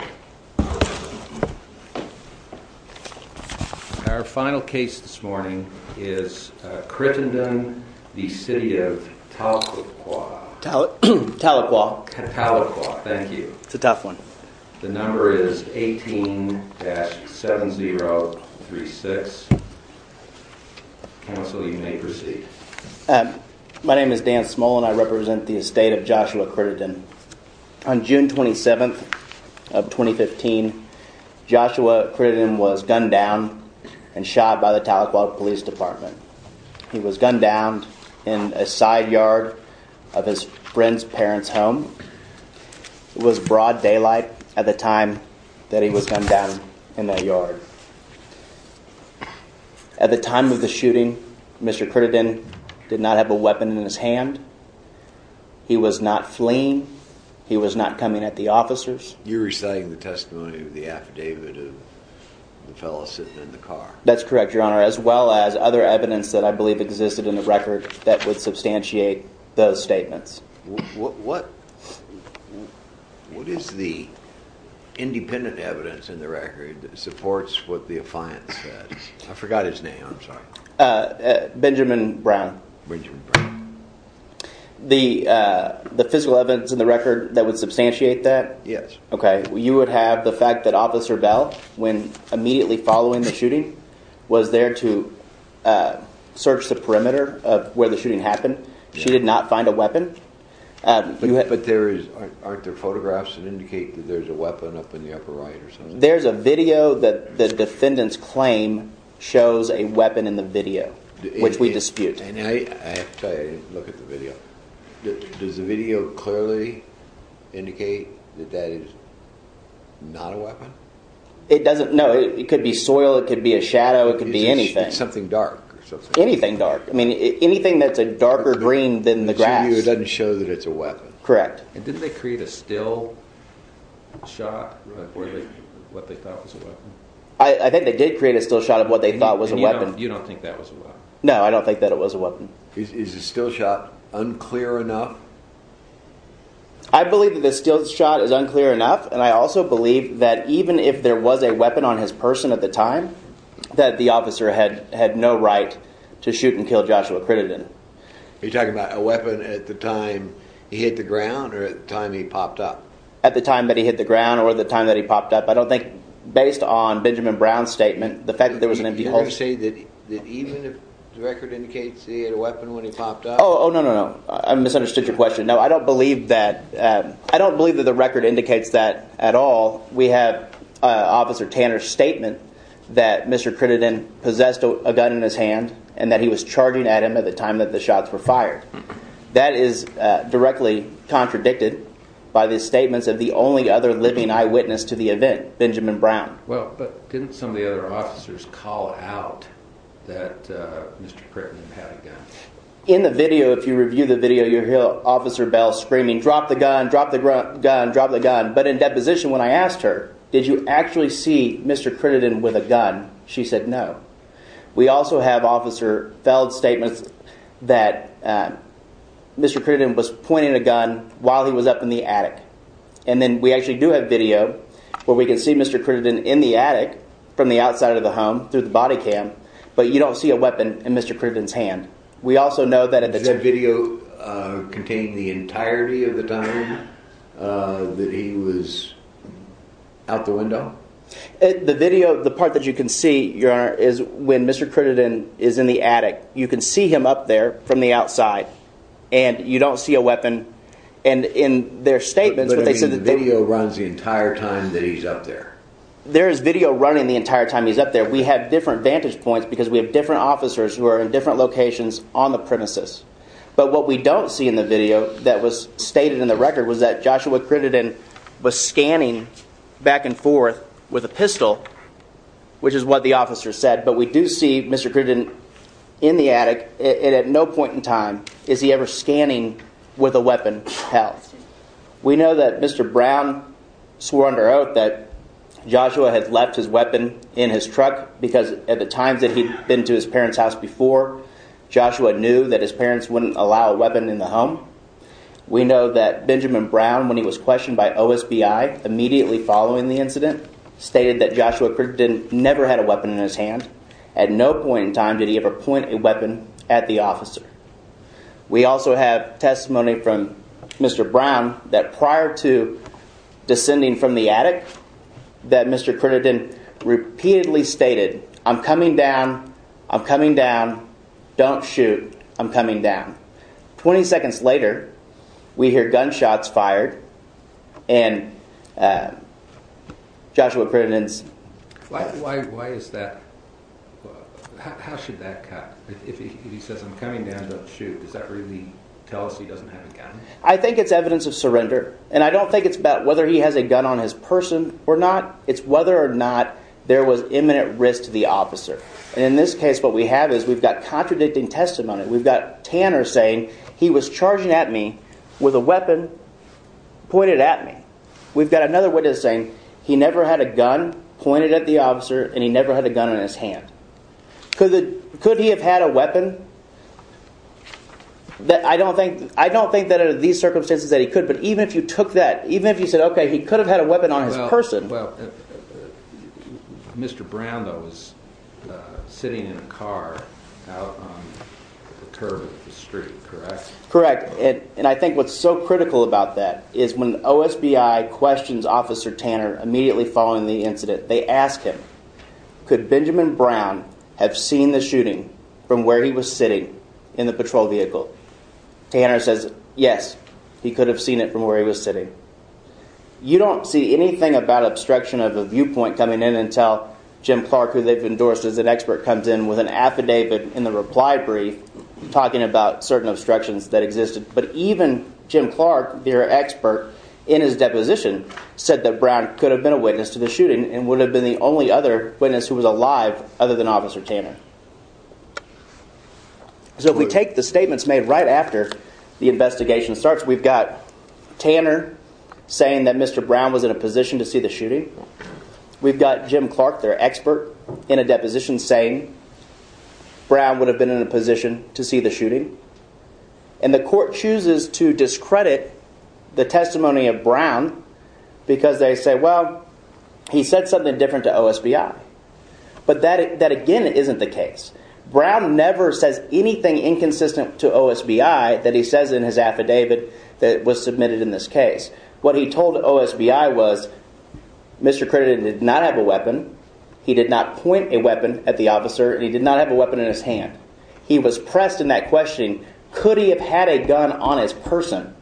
Our final case this morning is Crittenden v. City of Tahlequah. The number is 18-7036. Counsel, you may proceed. My name is Dan Smolen. I represent the estate of Joshua Crittenden. On June 27, 2015, Joshua Crittenden was gunned down and shot by the Tahlequah Police Department. He was gunned down in a side yard of his friend's parents' home. It was broad daylight at the time that he was gunned down in that yard. At the time of the shooting, Mr. Crittenden did not have a weapon in his hand. He was not fleeing. He was not coming at the officers. You're reciting the testimony of the affidavit of the fellow sitting in the car. That's correct, Your Honor, as well as other evidence that I believe existed in the record that would substantiate those statements. What is the independent evidence in the record that supports what the affiant said? I forgot his name. I'm sorry. Benjamin Brown. Benjamin Brown. The physical evidence in the record that would substantiate that? Yes. You would have the fact that Officer Bell, when immediately following the shooting, was there to search the perimeter of where the shooting happened. She did not find a weapon. But aren't there photographs that indicate that there's a weapon up in the upper right or something? There's a video that the defendant's claim shows a weapon in the video, which we dispute. I have to tell you, I didn't look at the video. Does the video clearly indicate that that is not a weapon? It doesn't – no. It could be soil. It could be a shadow. It could be anything. It's something dark or something. Anything dark. I mean anything that's a darker green than the grass. It doesn't show that it's a weapon. Correct. And didn't they create a still shot of what they thought was a weapon? I think they did create a still shot of what they thought was a weapon. And you don't think that was a weapon? No, I don't think that it was a weapon. Is the still shot unclear enough? I believe that the still shot is unclear enough. And I also believe that even if there was a weapon on his person at the time, that the officer had no right to shoot and kill Joshua Crittenden. Are you talking about a weapon at the time he hit the ground or at the time he popped up? At the time that he hit the ground or the time that he popped up. I don't think – based on Benjamin Brown's statement, the fact that there was an empty holster. Are you saying that even if the record indicates that he had a weapon when he popped up? Oh, no, no, no. I misunderstood your question. No, I don't believe that – I don't believe that the record indicates that at all. We have Officer Tanner's statement that Mr. Crittenden possessed a gun in his hand and that he was charging at him at the time that the shots were fired. That is directly contradicted by the statements of the only other living eyewitness to the event, Benjamin Brown. Well, but didn't some of the other officers call out that Mr. Crittenden had a gun? In the video, if you review the video, you'll hear Officer Bell screaming, drop the gun, drop the gun, drop the gun. But in deposition when I asked her, did you actually see Mr. Crittenden with a gun, she said no. We also have Officer Feld's statement that Mr. Crittenden was pointing a gun while he was up in the attic. And then we actually do have video where we can see Mr. Crittenden in the attic from the outside of the home through the body cam, but you don't see a weapon in Mr. Crittenden's hand. Is that video containing the entirety of the time that he was out the window? The video, the part that you can see, Your Honor, is when Mr. Crittenden is in the attic. You can see him up there from the outside and you don't see a weapon. And in their statements, they said the video runs the entire time that he's up there. There is video running the entire time he's up there. We have different vantage points because we have different officers who are in different locations on the premises. But what we don't see in the video that was stated in the record was that Joshua Crittenden was scanning back and forth with a pistol, which is what the officer said. But we do see Mr. Crittenden in the attic, and at no point in time is he ever scanning with a weapon held. We know that Mr. Brown swore under oath that Joshua had left his weapon in his truck because at the times that he'd been to his parents' house before, Joshua knew that his parents wouldn't allow a weapon in the home. We know that Benjamin Brown, when he was questioned by OSBI immediately following the incident, stated that Joshua Crittenden never had a weapon in his hand. At no point in time did he ever point a weapon at the officer. We also have testimony from Mr. Brown that prior to descending from the attic, that Mr. Crittenden repeatedly stated, I'm coming down, I'm coming down, don't shoot, I'm coming down. 20 seconds later, we hear gunshots fired, and Joshua Crittenden's... Why is that? How should that cut? If he says, I'm coming down, don't shoot, does that really tell us he doesn't have a gun? I think it's evidence of surrender, and I don't think it's about whether he has a gun on his person or not, it's whether or not there was imminent risk to the officer. In this case, what we have is we've got contradicting testimony. We've got Tanner saying, he was charging at me with a weapon pointed at me. We've got another witness saying, he never had a gun pointed at the officer, and he never had a gun in his hand. Could he have had a weapon? I don't think that under these circumstances that he could, but even if you took that, even if you said, okay, he could have had a weapon on his person... Well, Mr. Brown, though, was sitting in a car out on the curb of the street, correct? Correct, and I think what's so critical about that is when OSBI questions Officer Tanner immediately following the incident, they ask him, could Benjamin Brown have seen the shooting from where he was sitting in the patrol vehicle? Tanner says, yes, he could have seen it from where he was sitting. You don't see anything about obstruction of a viewpoint coming in until Jim Clark, who they've endorsed as an expert, comes in with an affidavit in the reply brief talking about certain obstructions that existed. But even Jim Clark, their expert in his deposition, said that Brown could have been a witness to the shooting and would have been the only other witness who was alive other than Officer Tanner. So if we take the statements made right after the investigation starts, we've got Tanner saying that Mr. Brown was in a position to see the shooting. We've got Jim Clark, their expert in a deposition, saying Brown would have been in a position to see the shooting. And the court chooses to discredit the testimony of Brown because they say, well, he said something different to OSBI. But that again isn't the case. Brown never says anything inconsistent to OSBI that he says in his affidavit that was submitted in this case. What he told OSBI was, Mr. Credit did not have a weapon. He did not point a weapon at the officer. He did not have a weapon in his hand. He was pressed in that questioning, could he have had a gun on his person?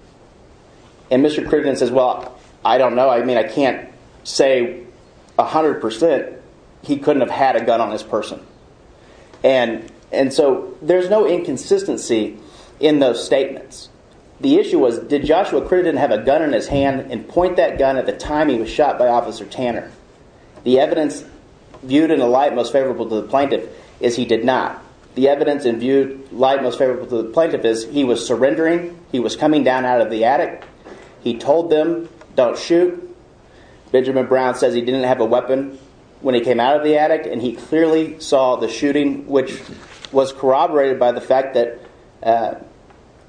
And Mr. Credit says, well, I don't know. I mean, I can't say 100% he couldn't have had a gun on his person. And so there's no inconsistency in those statements. The issue was, did Joshua Credit have a gun in his hand and point that gun at the time he was shot by Officer Tanner? The evidence viewed in the light most favorable to the plaintiff is he did not. The evidence in view light most favorable to the plaintiff is he was surrendering. He was coming down out of the attic. He told them, don't shoot. Benjamin Brown says he didn't have a weapon when he came out of the attic and he clearly saw the shooting, which was corroborated by the fact that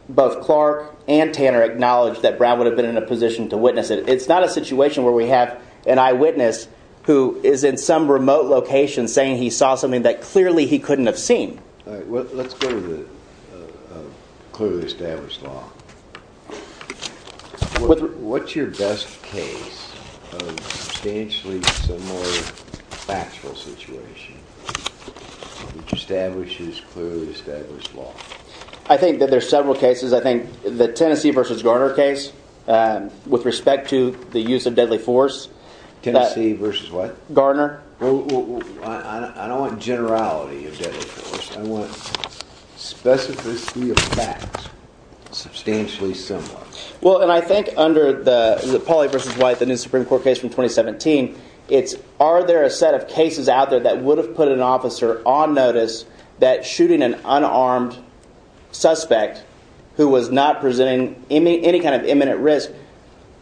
both Clark and Tanner acknowledged that Brown would have been in a position to witness it. It's not a situation where we have an eyewitness who is in some remote location saying he saw something that clearly he couldn't have seen. Let's go to the clearly established law. What's your best case of substantially similar factual situation, which establishes clearly established law? I think that there's several cases. I think the Tennessee v. Gardner case with respect to the use of deadly force. Tennessee v. Gardner. I don't want generality of deadly force. I want specificity of fact substantially similar. I think under the Pauley v. White, the new Supreme Court case from 2017, are there a set of cases out there that would have put an officer on notice that shooting an unarmed suspect who was not presenting any kind of imminent risk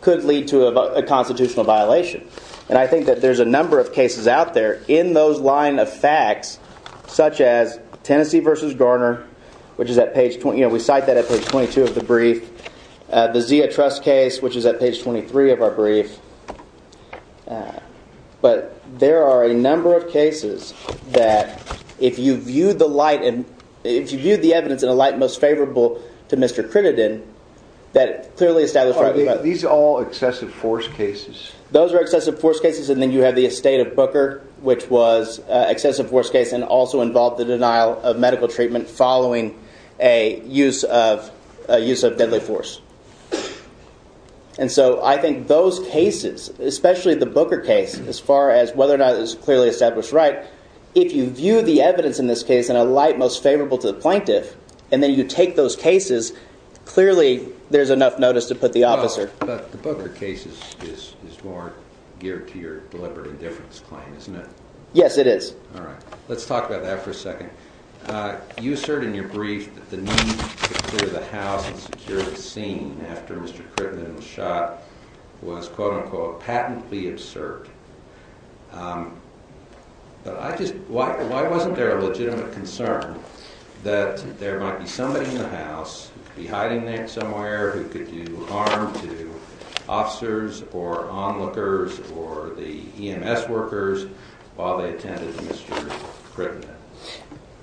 could lead to a constitutional violation. I think that there's a number of cases out there in those line of facts, such as Tennessee v. Gardner, which is at page 22 of the brief. The Zia Trust case, which is at page 23 of our brief. But there are a number of cases that if you view the light and if you view the evidence in a light most favorable to Mr. Crittenden, that clearly establishes that these are all excessive force cases. Those are excessive force cases. And then you have the estate of Booker, which was excessive force case and also involved the denial of medical treatment following a use of deadly force. And so I think those cases, especially the Booker case, as far as whether or not it was clearly established right, if you view the evidence in this case in a light most favorable to the plaintiff, and then you take those cases, clearly there's enough notice to put the officer. But the Booker case is more geared to your deliberate indifference claim, isn't it? Yes, it is. All right. Let's talk about that for a second. You assert in your brief that the need to secure the house and secure the scene after Mr. Crittenden was shot was, quote-unquote, patently absurd. But why wasn't there a legitimate concern that there might be somebody in the house, who could be hiding there somewhere, who could do harm to officers or onlookers or the EMS workers while they attended Mr. Crittenden?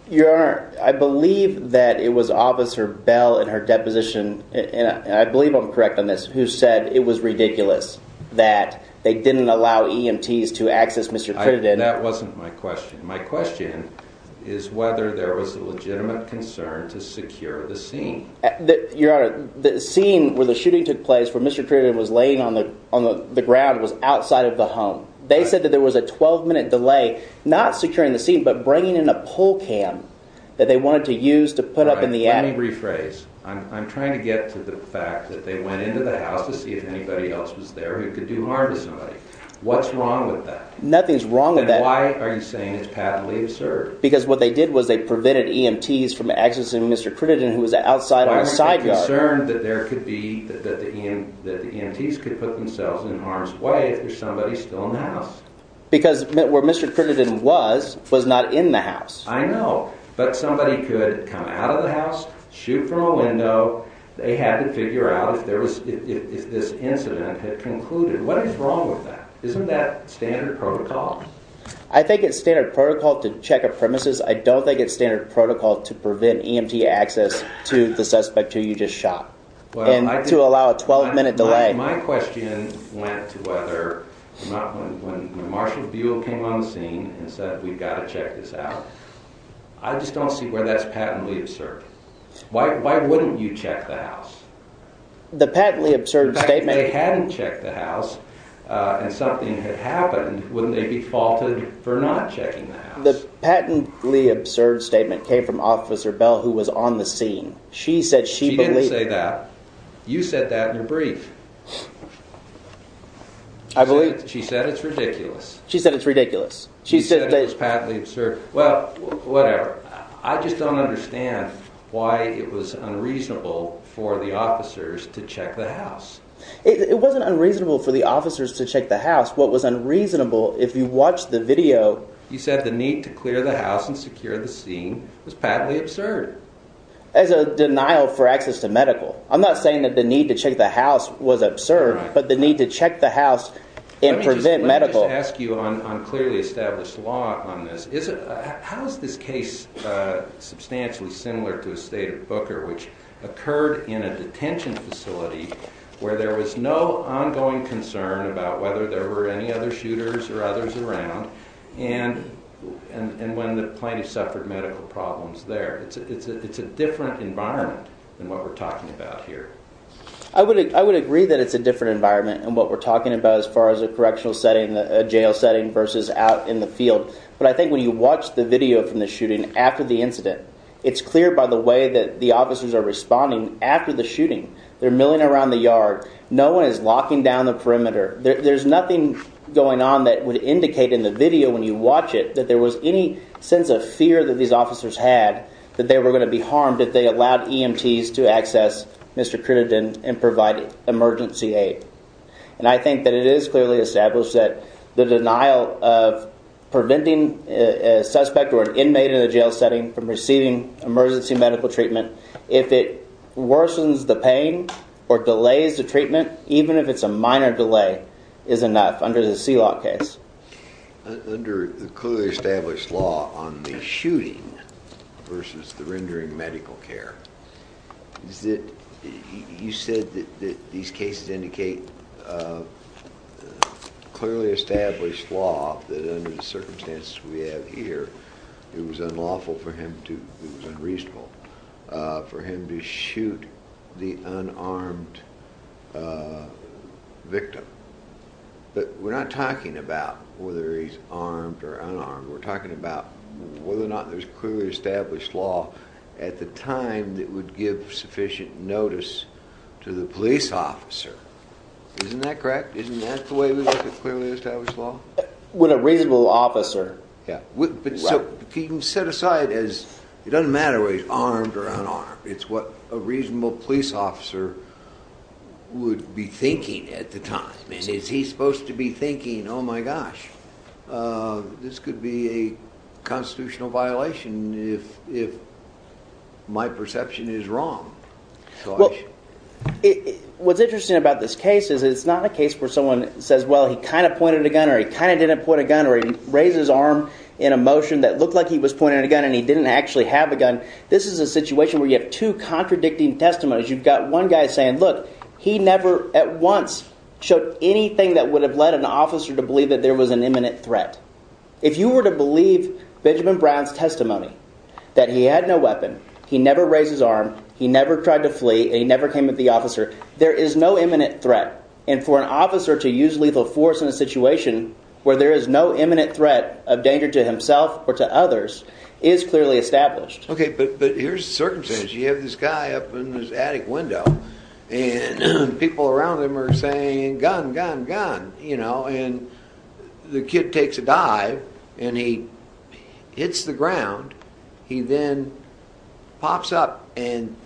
Your Honor, I believe that it was Officer Bell in her deposition, and I believe I'm correct on this, who said it was ridiculous that they didn't allow EMTs to access Mr. Crittenden. That wasn't my question. My question is whether there was a legitimate concern to secure the scene. Your Honor, the scene where the shooting took place, where Mr. Crittenden was laying on the ground, was outside of the home. They said that there was a 12-minute delay, not securing the scene, but bringing in a pull cam that they wanted to use to put up in the attic. All right. Let me rephrase. I'm trying to get to the fact that they went into the house to see if anybody else was there who could do harm to somebody. What's wrong with that? Nothing's wrong with that. Then why are you saying it's patently absurd? Because what they did was they prevented EMTs from accessing Mr. Crittenden, who was outside on the side yard. But I'm concerned that the EMTs could put themselves in harm's way if there's somebody still in the house. Because where Mr. Crittenden was, was not in the house. I know. But somebody could come out of the house, shoot from a window. They had to figure out if this incident had concluded. What is wrong with that? Isn't that standard protocol? I think it's standard protocol to check a premises. I don't think it's standard protocol to prevent EMT access to the suspect who you just shot and to allow a 12-minute delay. My question went to whether or not when Marshall Buell came on the scene and said, we've got to check this out. I just don't see where that's patently absurd. Why wouldn't you check the house? In fact, if they hadn't checked the house and something had happened, wouldn't they be faulted for not checking the house? She didn't say that. You said that in your brief. She said it's ridiculous. She said it's ridiculous. She said it was patently absurd. Well, whatever. I just don't understand why it was unreasonable for the officers to check the house. It wasn't unreasonable for the officers to check the house. What was unreasonable, if you watched the video. You said the need to clear the house and secure the scene was patently absurd. As a denial for access to medical. I'm not saying that the need to check the house was absurd, but the need to check the house and prevent medical. Let me just ask you on clearly established law on this. How is this case substantially similar to the state of Booker, which occurred in a detention facility where there was no ongoing concern about whether there were any other shooters or others around. And when the plaintiff suffered medical problems there. It's a different environment than what we're talking about here. I would agree that it's a different environment and what we're talking about as far as a correctional setting, a jail setting versus out in the field. But I think when you watch the video from the shooting after the incident, it's clear by the way that the officers are responding after the shooting. They're milling around the yard. No one is locking down the perimeter. There's nothing going on that would indicate in the video when you watch it that there was any sense of fear that these officers had that they were going to be harmed if they allowed EMTs to access Mr. Crittenden and provide emergency aid. And I think that it is clearly established that the denial of preventing a suspect or an inmate in a jail setting from receiving emergency medical treatment. If it worsens the pain or delays the treatment, even if it's a minor delay, is enough under the CLOC case. Under the clearly established law on the shooting versus the rendering medical care. You said that these cases indicate clearly established law that under the circumstances we have here, it was unlawful for him to... it was unreasonable for him to shoot the unarmed victim. But we're not talking about whether he's armed or unarmed. We're talking about whether or not there's clearly established law at the time that would give sufficient notice to the police officer. Isn't that correct? Isn't that the way we look at clearly established law? With a reasonable officer. So you can set aside as... it doesn't matter whether he's armed or unarmed. It's what a reasonable police officer would be thinking at the time. And is he supposed to be thinking, oh my gosh, this could be a constitutional violation if my perception is wrong? What's interesting about this case is it's not a case where someone says, well, he kind of pointed a gun or he kind of didn't point a gun or he raised his arm in a motion that looked like he was pointing a gun and he didn't actually have a gun. This is a situation where you have two contradicting testimonies. You've got one guy saying, look, he never at once showed anything that would have led an officer to believe that there was an imminent threat. If you were to believe Benjamin Brown's testimony that he had no weapon, he never raised his arm, he never tried to flee, and he never came at the officer, there is no imminent threat. And for an officer to use lethal force in a situation where there is no imminent threat of danger to himself or to others is clearly established. Okay, but here's the circumstance. You have this guy up in this attic window and people around him are saying, gun, gun, gun. And the kid takes a dive and he hits the ground. He then pops up and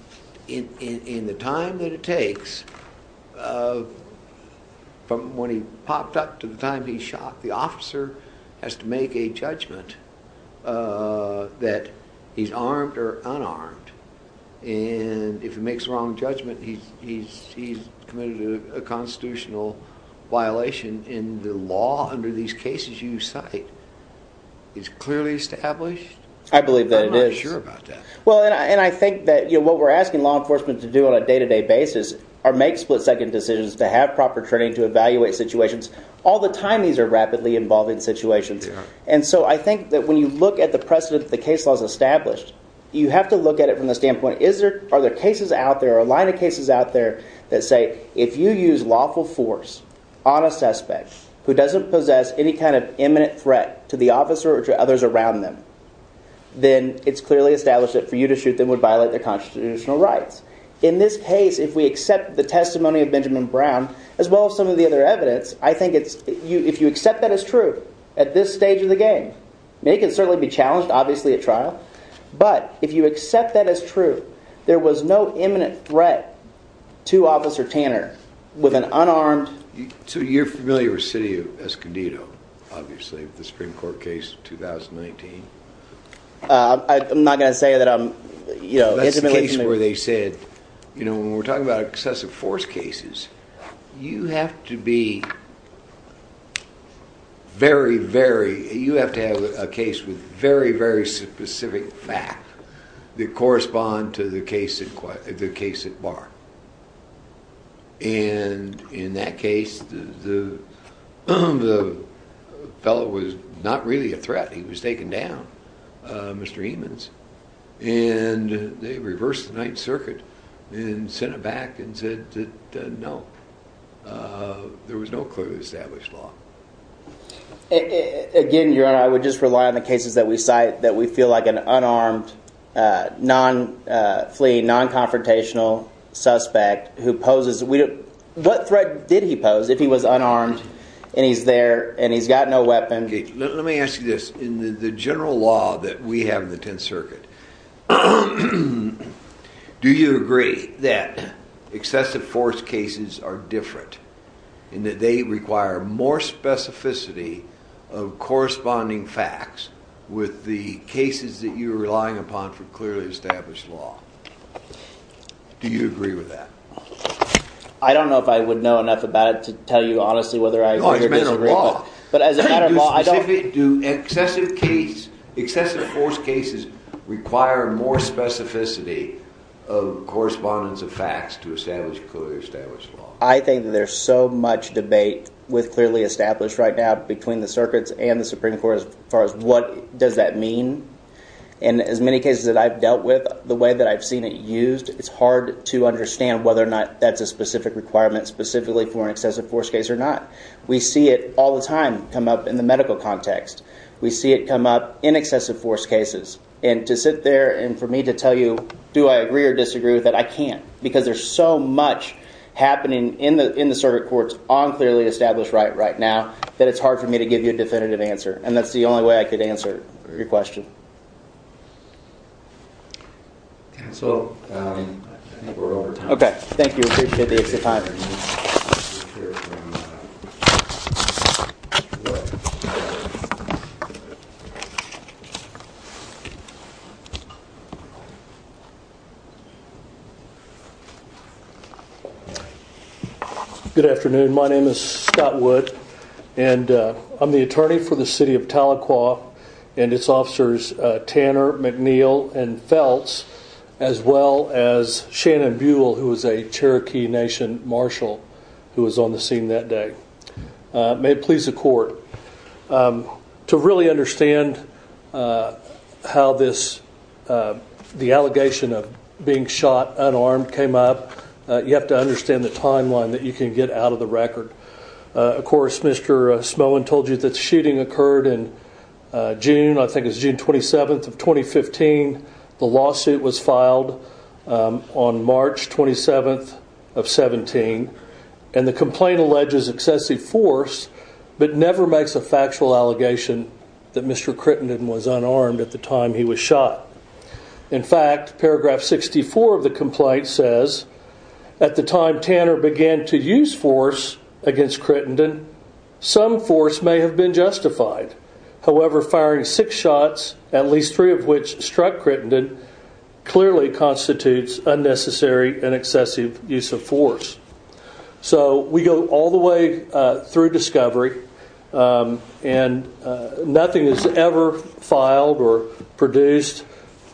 in the time that it takes, from when he popped up to the time he shot, the officer has to make a judgment that he's armed or unarmed. And if he makes a wrong judgment, he's committed a constitutional violation and the law under these cases you cite is clearly established? I believe that it is. I'm not sure about that. Well, and I think that what we're asking law enforcement to do on a day-to-day basis are make split-second decisions to have proper training to evaluate situations. All the time, these are rapidly evolving situations. And so I think that when you look at the precedent that the case law has established, you have to look at it from the standpoint, are there cases out there or a line of cases out there that say, if you use lawful force on a suspect who doesn't possess any kind of imminent threat to the officer or to others around them, then it's clearly established that for you to shoot them would violate their constitutional rights. In this case, if we accept the testimony of Benjamin Brown as well as some of the other evidence, I think it's – if you accept that as true at this stage of the game, it can certainly be challenged, obviously, at trial. But if you accept that as true, there was no imminent threat to Officer Tanner with an unarmed – So you're familiar with the city of Escondido, obviously, with the Supreme Court case of 2019? I'm not going to say that I'm – That's the case where they said, when we're talking about excessive force cases, you have to be very, very – you have to have a case with very, very specific facts that correspond to the case at Barr. And in that case, the fellow was not really a threat. He was taken down, Mr. Eamons, and they reversed the Ninth Circuit and sent it back and said that, no, there was no clearly established law. Again, your Honor, I would just rely on the cases that we cite that we feel like an unarmed, non-flea, non-confrontational suspect who poses – what threat did he pose if he was unarmed and he's there and he's got no weapon? OK. Let me ask you this. In the general law that we have in the Tenth Circuit, do you agree that excessive force cases are different and that they require more specificity of corresponding facts with the cases that you're relying upon for clearly established law? Do you agree with that? I don't know if I would know enough about it to tell you honestly whether I agree or disagree. But as a matter of law, I don't – Do excessive case – excessive force cases require more specificity of correspondence of facts to establish clearly established law? I think that there's so much debate with clearly established right now between the circuits and the Supreme Court as far as what does that mean. And as many cases that I've dealt with, the way that I've seen it used, it's hard to understand whether or not that's a specific requirement specifically for an excessive force case or not. We see it all the time come up in the medical context. We see it come up in excessive force cases. And to sit there and for me to tell you do I agree or disagree with that, I can't. Because there's so much happening in the circuit courts on clearly established right right now that it's hard for me to give you a definitive answer. And that's the only way I could answer your question. And so I think we're over time. Okay. Thank you. I appreciate the extra time. Good afternoon. My name is Scott Wood. I'm the attorney for the city of Tahlequah and its officers, Tanner McNeil and Phelps, as well as Shannon Buell, who was a Cherokee Nation marshal, who was on the scene that day. May it please the court. To really understand how this the allegation of being shot unarmed came up, you have to understand the timeline that you can get out of the record. Of course, Mr. Smolin told you that the shooting occurred in June. I think it's June 27th of 2015. The lawsuit was filed on March 27th of 17. And the complaint alleges excessive force, but never makes a factual allegation that Mr. Crittenden was unarmed at the time he was shot. In fact, paragraph 64 of the complaint says, at the time Tanner began to use force against Crittenden, some force may have been justified. However, firing six shots, at least three of which struck Crittenden, clearly constitutes unnecessary and excessive use of force. So we go all the way through discovery, and nothing is ever filed or produced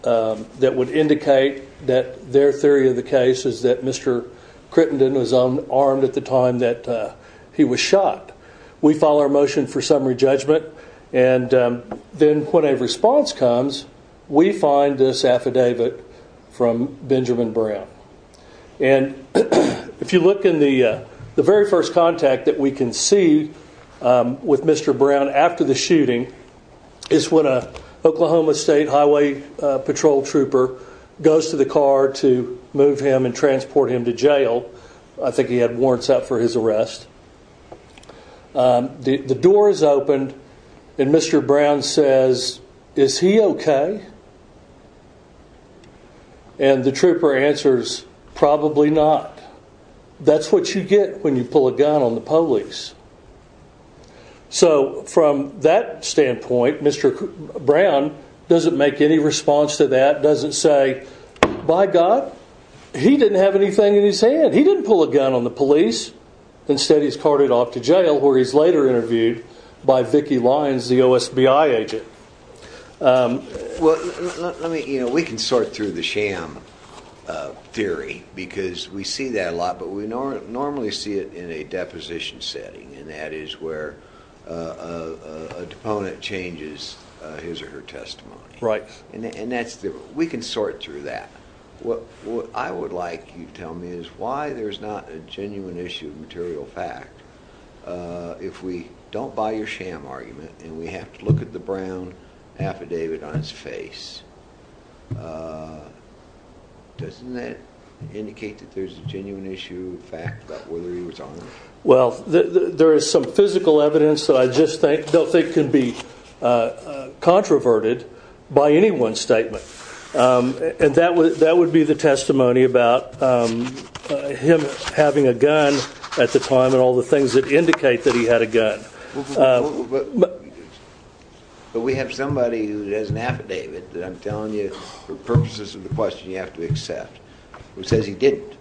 that would indicate that their theory of the case is that Mr. Crittenden was unarmed at the time that he was shot. We file our motion for summary judgment, and then when a response comes, we find this affidavit from Benjamin Brown. And if you look in the very first contact that we can see with Mr. Brown after the shooting, is when an Oklahoma State Highway Patrol trooper goes to the car to move him and transport him to jail. I think he had warrants out for his arrest. The door is opened, and Mr. Brown says, is he okay? And the trooper answers, probably not. That's what you get when you pull a gun on the police. So from that standpoint, Mr. Brown doesn't make any response to that, doesn't say, by God, he didn't have anything in his hand. He didn't pull a gun on the police. Instead, he's carted off to jail, where he's later interviewed by Vicki Lyons, the OSBI agent. We can sort through the sham theory, because we see that a lot, but we normally see it in a deposition setting, and that is where a deponent changes his or her testimony. And we can sort through that. What I would like you to tell me is why there's not a genuine issue of material fact, if we don't buy your sham argument and we have to look at the Brown affidavit on his face. Doesn't that indicate that there's a genuine issue of fact about whether he was armed? Well, there is some physical evidence that I just don't think can be controverted by any one statement. And that would be the testimony about him having a gun at the time and all the things that indicate that he had a gun. But we have somebody who has an affidavit that I'm telling you for purposes of the question you have to accept, who says he didn't.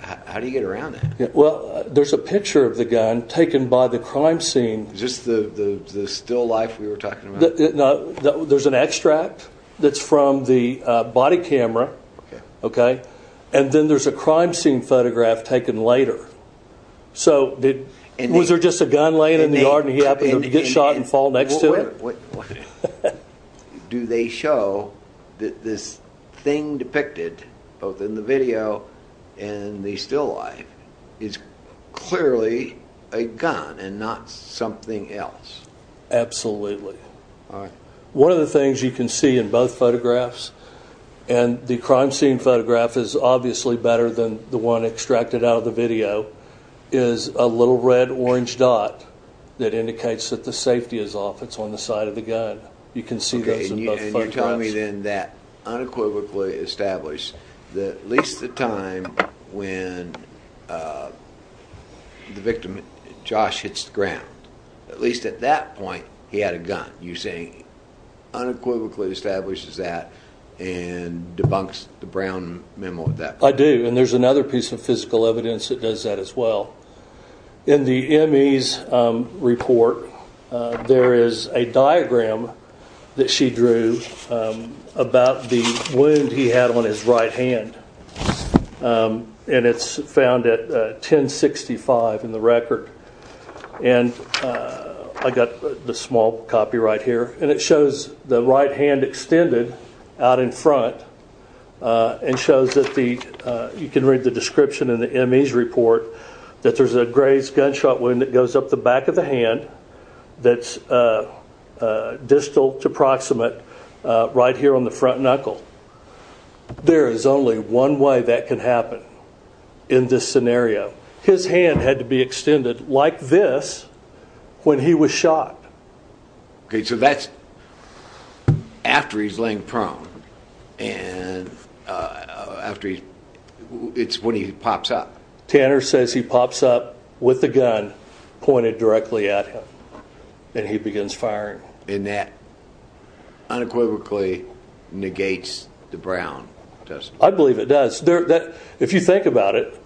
How do you get around that? Well, there's a picture of the gun taken by the crime scene. Is this the still life we were talking about? There's an extract that's from the body camera. And then there's a crime scene photograph taken later. So was there just a gun laying in the yard and he happened to get shot and fall next to it? Do they show that this thing depicted, both in the video and the still life, is clearly a gun and not something else? Absolutely. One of the things you can see in both photographs, and the crime scene photograph is obviously better than the one extracted out of the video, is a little red-orange dot that indicates that the safety is off, it's on the side of the gun. You can see those in both photographs. Okay, and you're telling me then that unequivocally established that at least the time when the victim, Josh, hits the ground, at least at that point, he had a gun. You're saying unequivocally establishes that and debunks the Brown memo at that point? I do, and there's another piece of physical evidence that does that as well. In the ME's report, there is a diagram that she drew about the wound he had on his right hand. And it's found at 1065 in the record. And I got the small copy right here. And it shows the right hand extended out in front and shows that the, you can read the description in the ME's report, that there's a grazed gunshot wound that goes up the back of the hand that's distal to proximate right here on the front knuckle. There is only one way that can happen in this scenario. His hand had to be extended like this when he was shot. Okay, so that's after he's laying prone and it's when he pops up. Tanner says he pops up with the gun pointed directly at him and he begins firing. And that unequivocally negates the Brown testimony. I believe it does. If you think about it,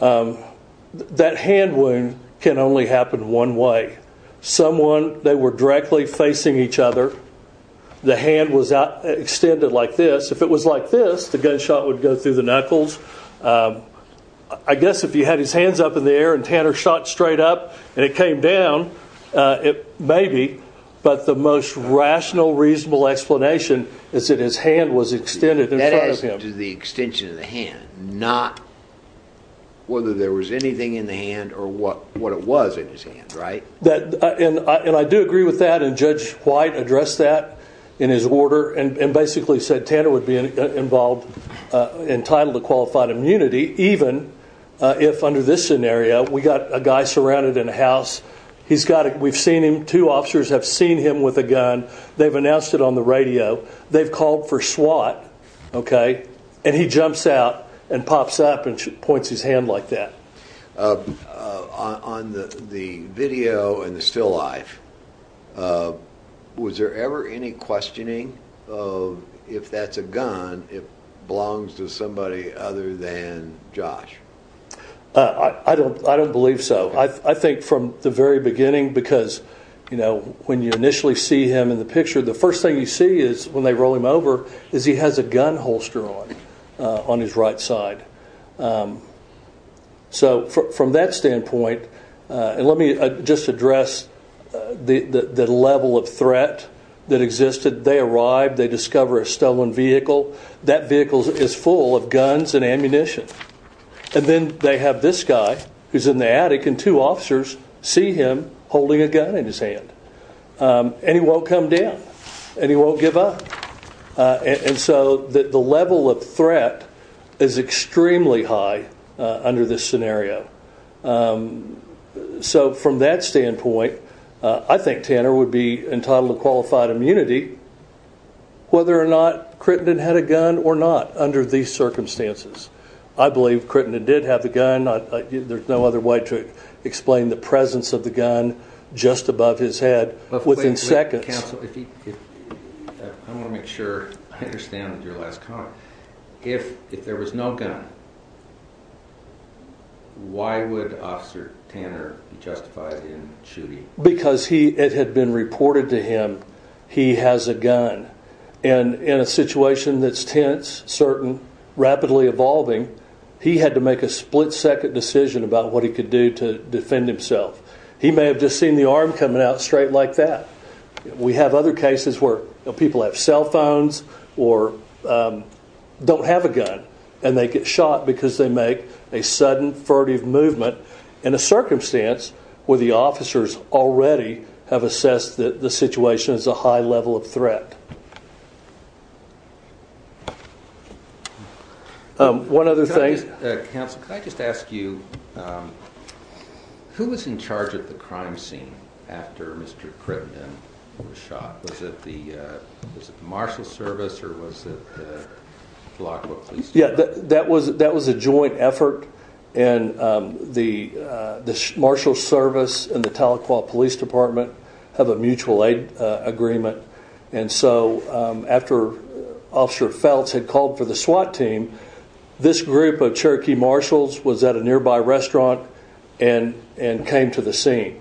that hand wound can only happen one way. Someone, they were directly facing each other. The hand was extended like this. If it was like this, the gunshot would go through the knuckles. I guess if you had his hands up in the air and Tanner shot straight up and it came down, it may be. But the most rational, reasonable explanation is that his hand was extended in front of him. He went to the extension of the hand, not whether there was anything in the hand or what it was in his hand, right? And I do agree with that. And Judge White addressed that in his order and basically said Tanner would be involved, entitled to qualified immunity, even if under this scenario we got a guy surrounded in a house. We've seen him. Two officers have seen him with a gun. They've announced it on the radio. They've called for SWAT. Okay? And he jumps out and pops up and points his hand like that. On the video and the still life, was there ever any questioning of if that's a gun, if it belongs to somebody other than Josh? I don't believe so. I think from the very beginning because, you know, when you initially see him in the picture, the first thing you see is when they roll him over is he has a gun holster on, on his right side. So from that standpoint, and let me just address the level of threat that existed. They arrived. They discover a stolen vehicle. That vehicle is full of guns and ammunition. And then they have this guy who's in the attic, and two officers see him holding a gun in his hand. And he won't come down. And he won't give up. And so the level of threat is extremely high under this scenario. So from that standpoint, I think Tanner would be entitled to qualified immunity whether or not Crittenden had a gun or not under these circumstances. I believe Crittenden did have a gun. There's no other way to explain the presence of the gun just above his head within seconds. I want to make sure I understand your last comment. If there was no gun, why would Officer Tanner be justified in shooting? Because it had been reported to him he has a gun. And in a situation that's tense, certain, rapidly evolving, he had to make a split-second decision about what he could do to defend himself. He may have just seen the arm coming out straight like that. We have other cases where people have cell phones or don't have a gun, and they get shot because they make a sudden furtive movement in a circumstance where the officers already have assessed that the situation is a high level of threat. One other thing. Counsel, can I just ask you, who was in charge of the crime scene after Mr. Crittenden was shot? Was it the Marshal Service or was it the Tahlequah Police Department? Yeah, that was a joint effort, and the Marshal Service and the Tahlequah Police Department have a mutual aid agreement. And so after Officer Feltz had called for the SWAT team, this group of Cherokee Marshals was at a nearby restaurant and came to the scene.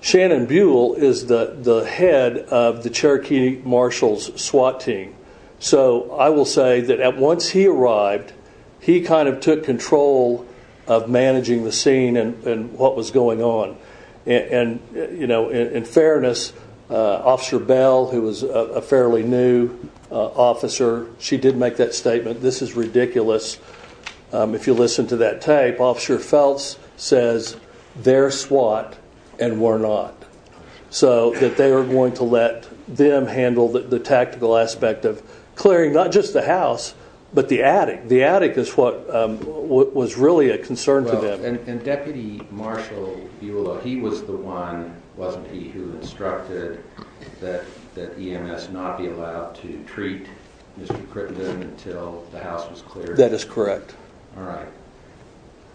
Shannon Buell is the head of the Cherokee Marshals SWAT team. So I will say that once he arrived, he kind of took control of managing the scene and what was going on. And, you know, in fairness, Officer Bell, who was a fairly new officer, she did make that statement, this is ridiculous, if you listen to that tape, Officer Feltz says they're SWAT and we're not. So that they were going to let them handle the tactical aspect of clearing not just the house, but the attic. The attic is what was really a concern to them. And Deputy Marshal Buell, he was the one, wasn't he, who instructed that EMS not be allowed to treat Mr. Crittenden until the house was cleared? That is correct. All right.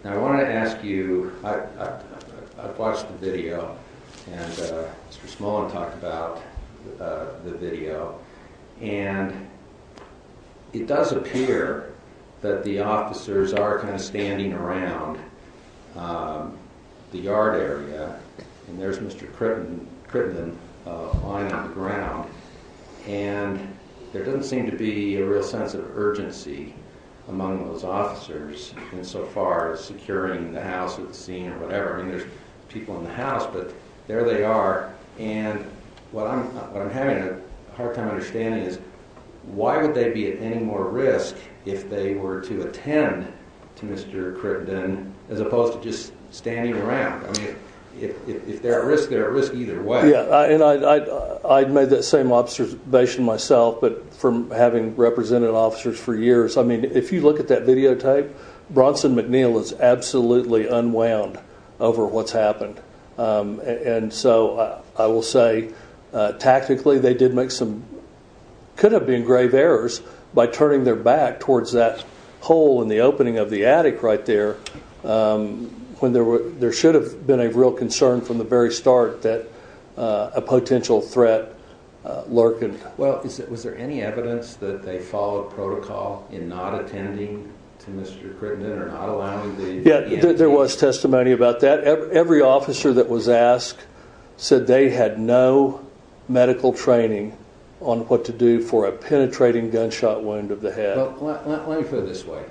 Now I want to ask you, I've watched the video and Mr. Smolin talked about the video. And it does appear that the officers are kind of standing around the yard area. And there's Mr. Crittenden lying on the ground. And there doesn't seem to be a real sense of urgency among those officers insofar as securing the house or the scene or whatever. I mean, there's people in the house, but there they are. And what I'm having a hard time understanding is why would they be at any more risk if they were to attend to Mr. Crittenden as opposed to just standing around? I mean, if they're at risk, they're at risk either way. Yeah. And I'd made that same observation myself from having represented officers for years. I mean, if you look at that videotape, Bronson McNeil is absolutely unwound over what's happened. And so I will say, tactically, they did make some, could have been, grave errors by turning their back towards that hole in the opening of the attic right there. There should have been a real concern from the very start that a potential threat lurking. Well, was there any evidence that they followed protocol in not attending to Mr. Crittenden or not allowing them to intervene? Yeah, there was testimony about that. Every officer that was asked said they had no medical training on what to do for a penetrating gunshot wound of the head. Let me put it this way.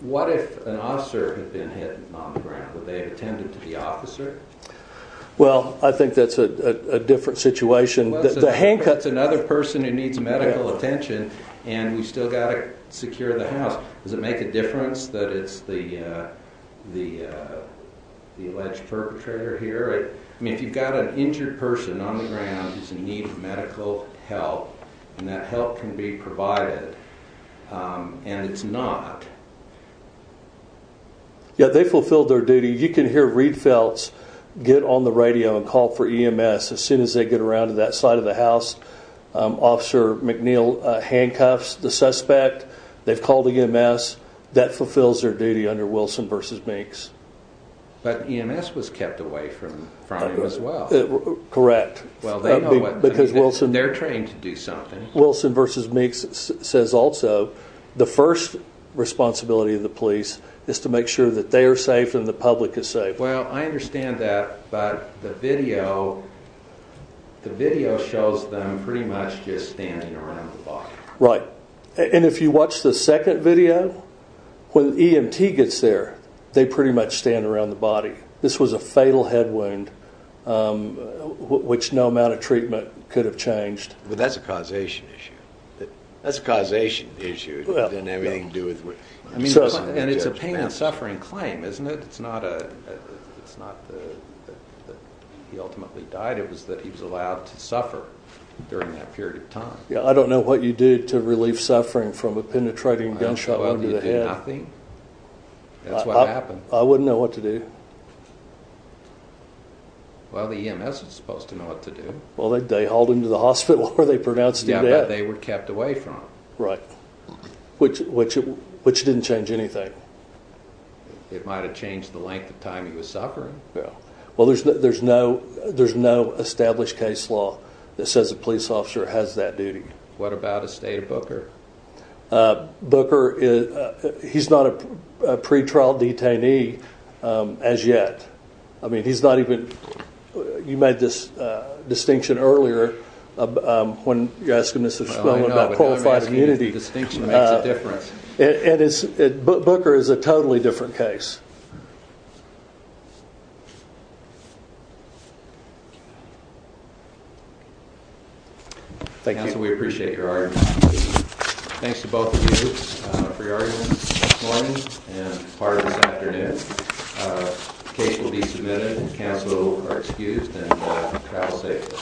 What if an officer had been hit on the ground? Would they have attended to the officer? Well, I think that's a different situation. The handcuff's another person who needs medical attention and we've still got to secure the house. Does it make a difference that it's the alleged perpetrator here? I mean, if you've got an injured person on the ground who's in need of medical help and that help can be provided and it's not... Yeah, they fulfilled their duty. You can hear Reed Feltz get on the radio and call for EMS as soon as they get around to that side of the house. Officer McNeil handcuffs the suspect. They've called EMS. That fulfills their duty under Wilson v. Minx. But EMS was kept away from him as well. Correct. Well, they know what... Because Wilson... They're trained to do something. Wilson v. Minx says also the first responsibility of the police is to make sure that they are safe and the public is safe. Well, I understand that, but the video shows them pretty much just standing around the body. Right. And if you watch the second video, when EMT gets there, they pretty much stand around the body. This was a fatal head wound which no amount of treatment could have changed. But that's a causation issue. That's a causation issue. It didn't have anything to do with... And it's a pain and suffering claim, isn't it? It's not that he ultimately died. It was that he was allowed to suffer during that period of time. Yeah, I don't know what you did to relieve suffering from a penetrating gunshot wound to the head. Well, you did nothing. That's what happened. I wouldn't know what to do. Well, the EMS was supposed to know what to do. Well, they hauled him to the hospital where they pronounced him dead. Yeah, but they were kept away from him. Right, which didn't change anything. It might have changed the length of time he was suffering. Yeah. Well, there's no established case law that says a police officer has that duty. What about a state of Booker? Booker, he's not a pretrial detainee as yet. I mean, he's not even... You made this distinction earlier when you asked him about qualified immunity. Distinction makes a difference. Booker is a totally different case. Thank you. Counsel, we appreciate your argument. Thanks to both of you for your arguments this morning and part of this afternoon. The case will be submitted. Counsel are excused. Travel safely.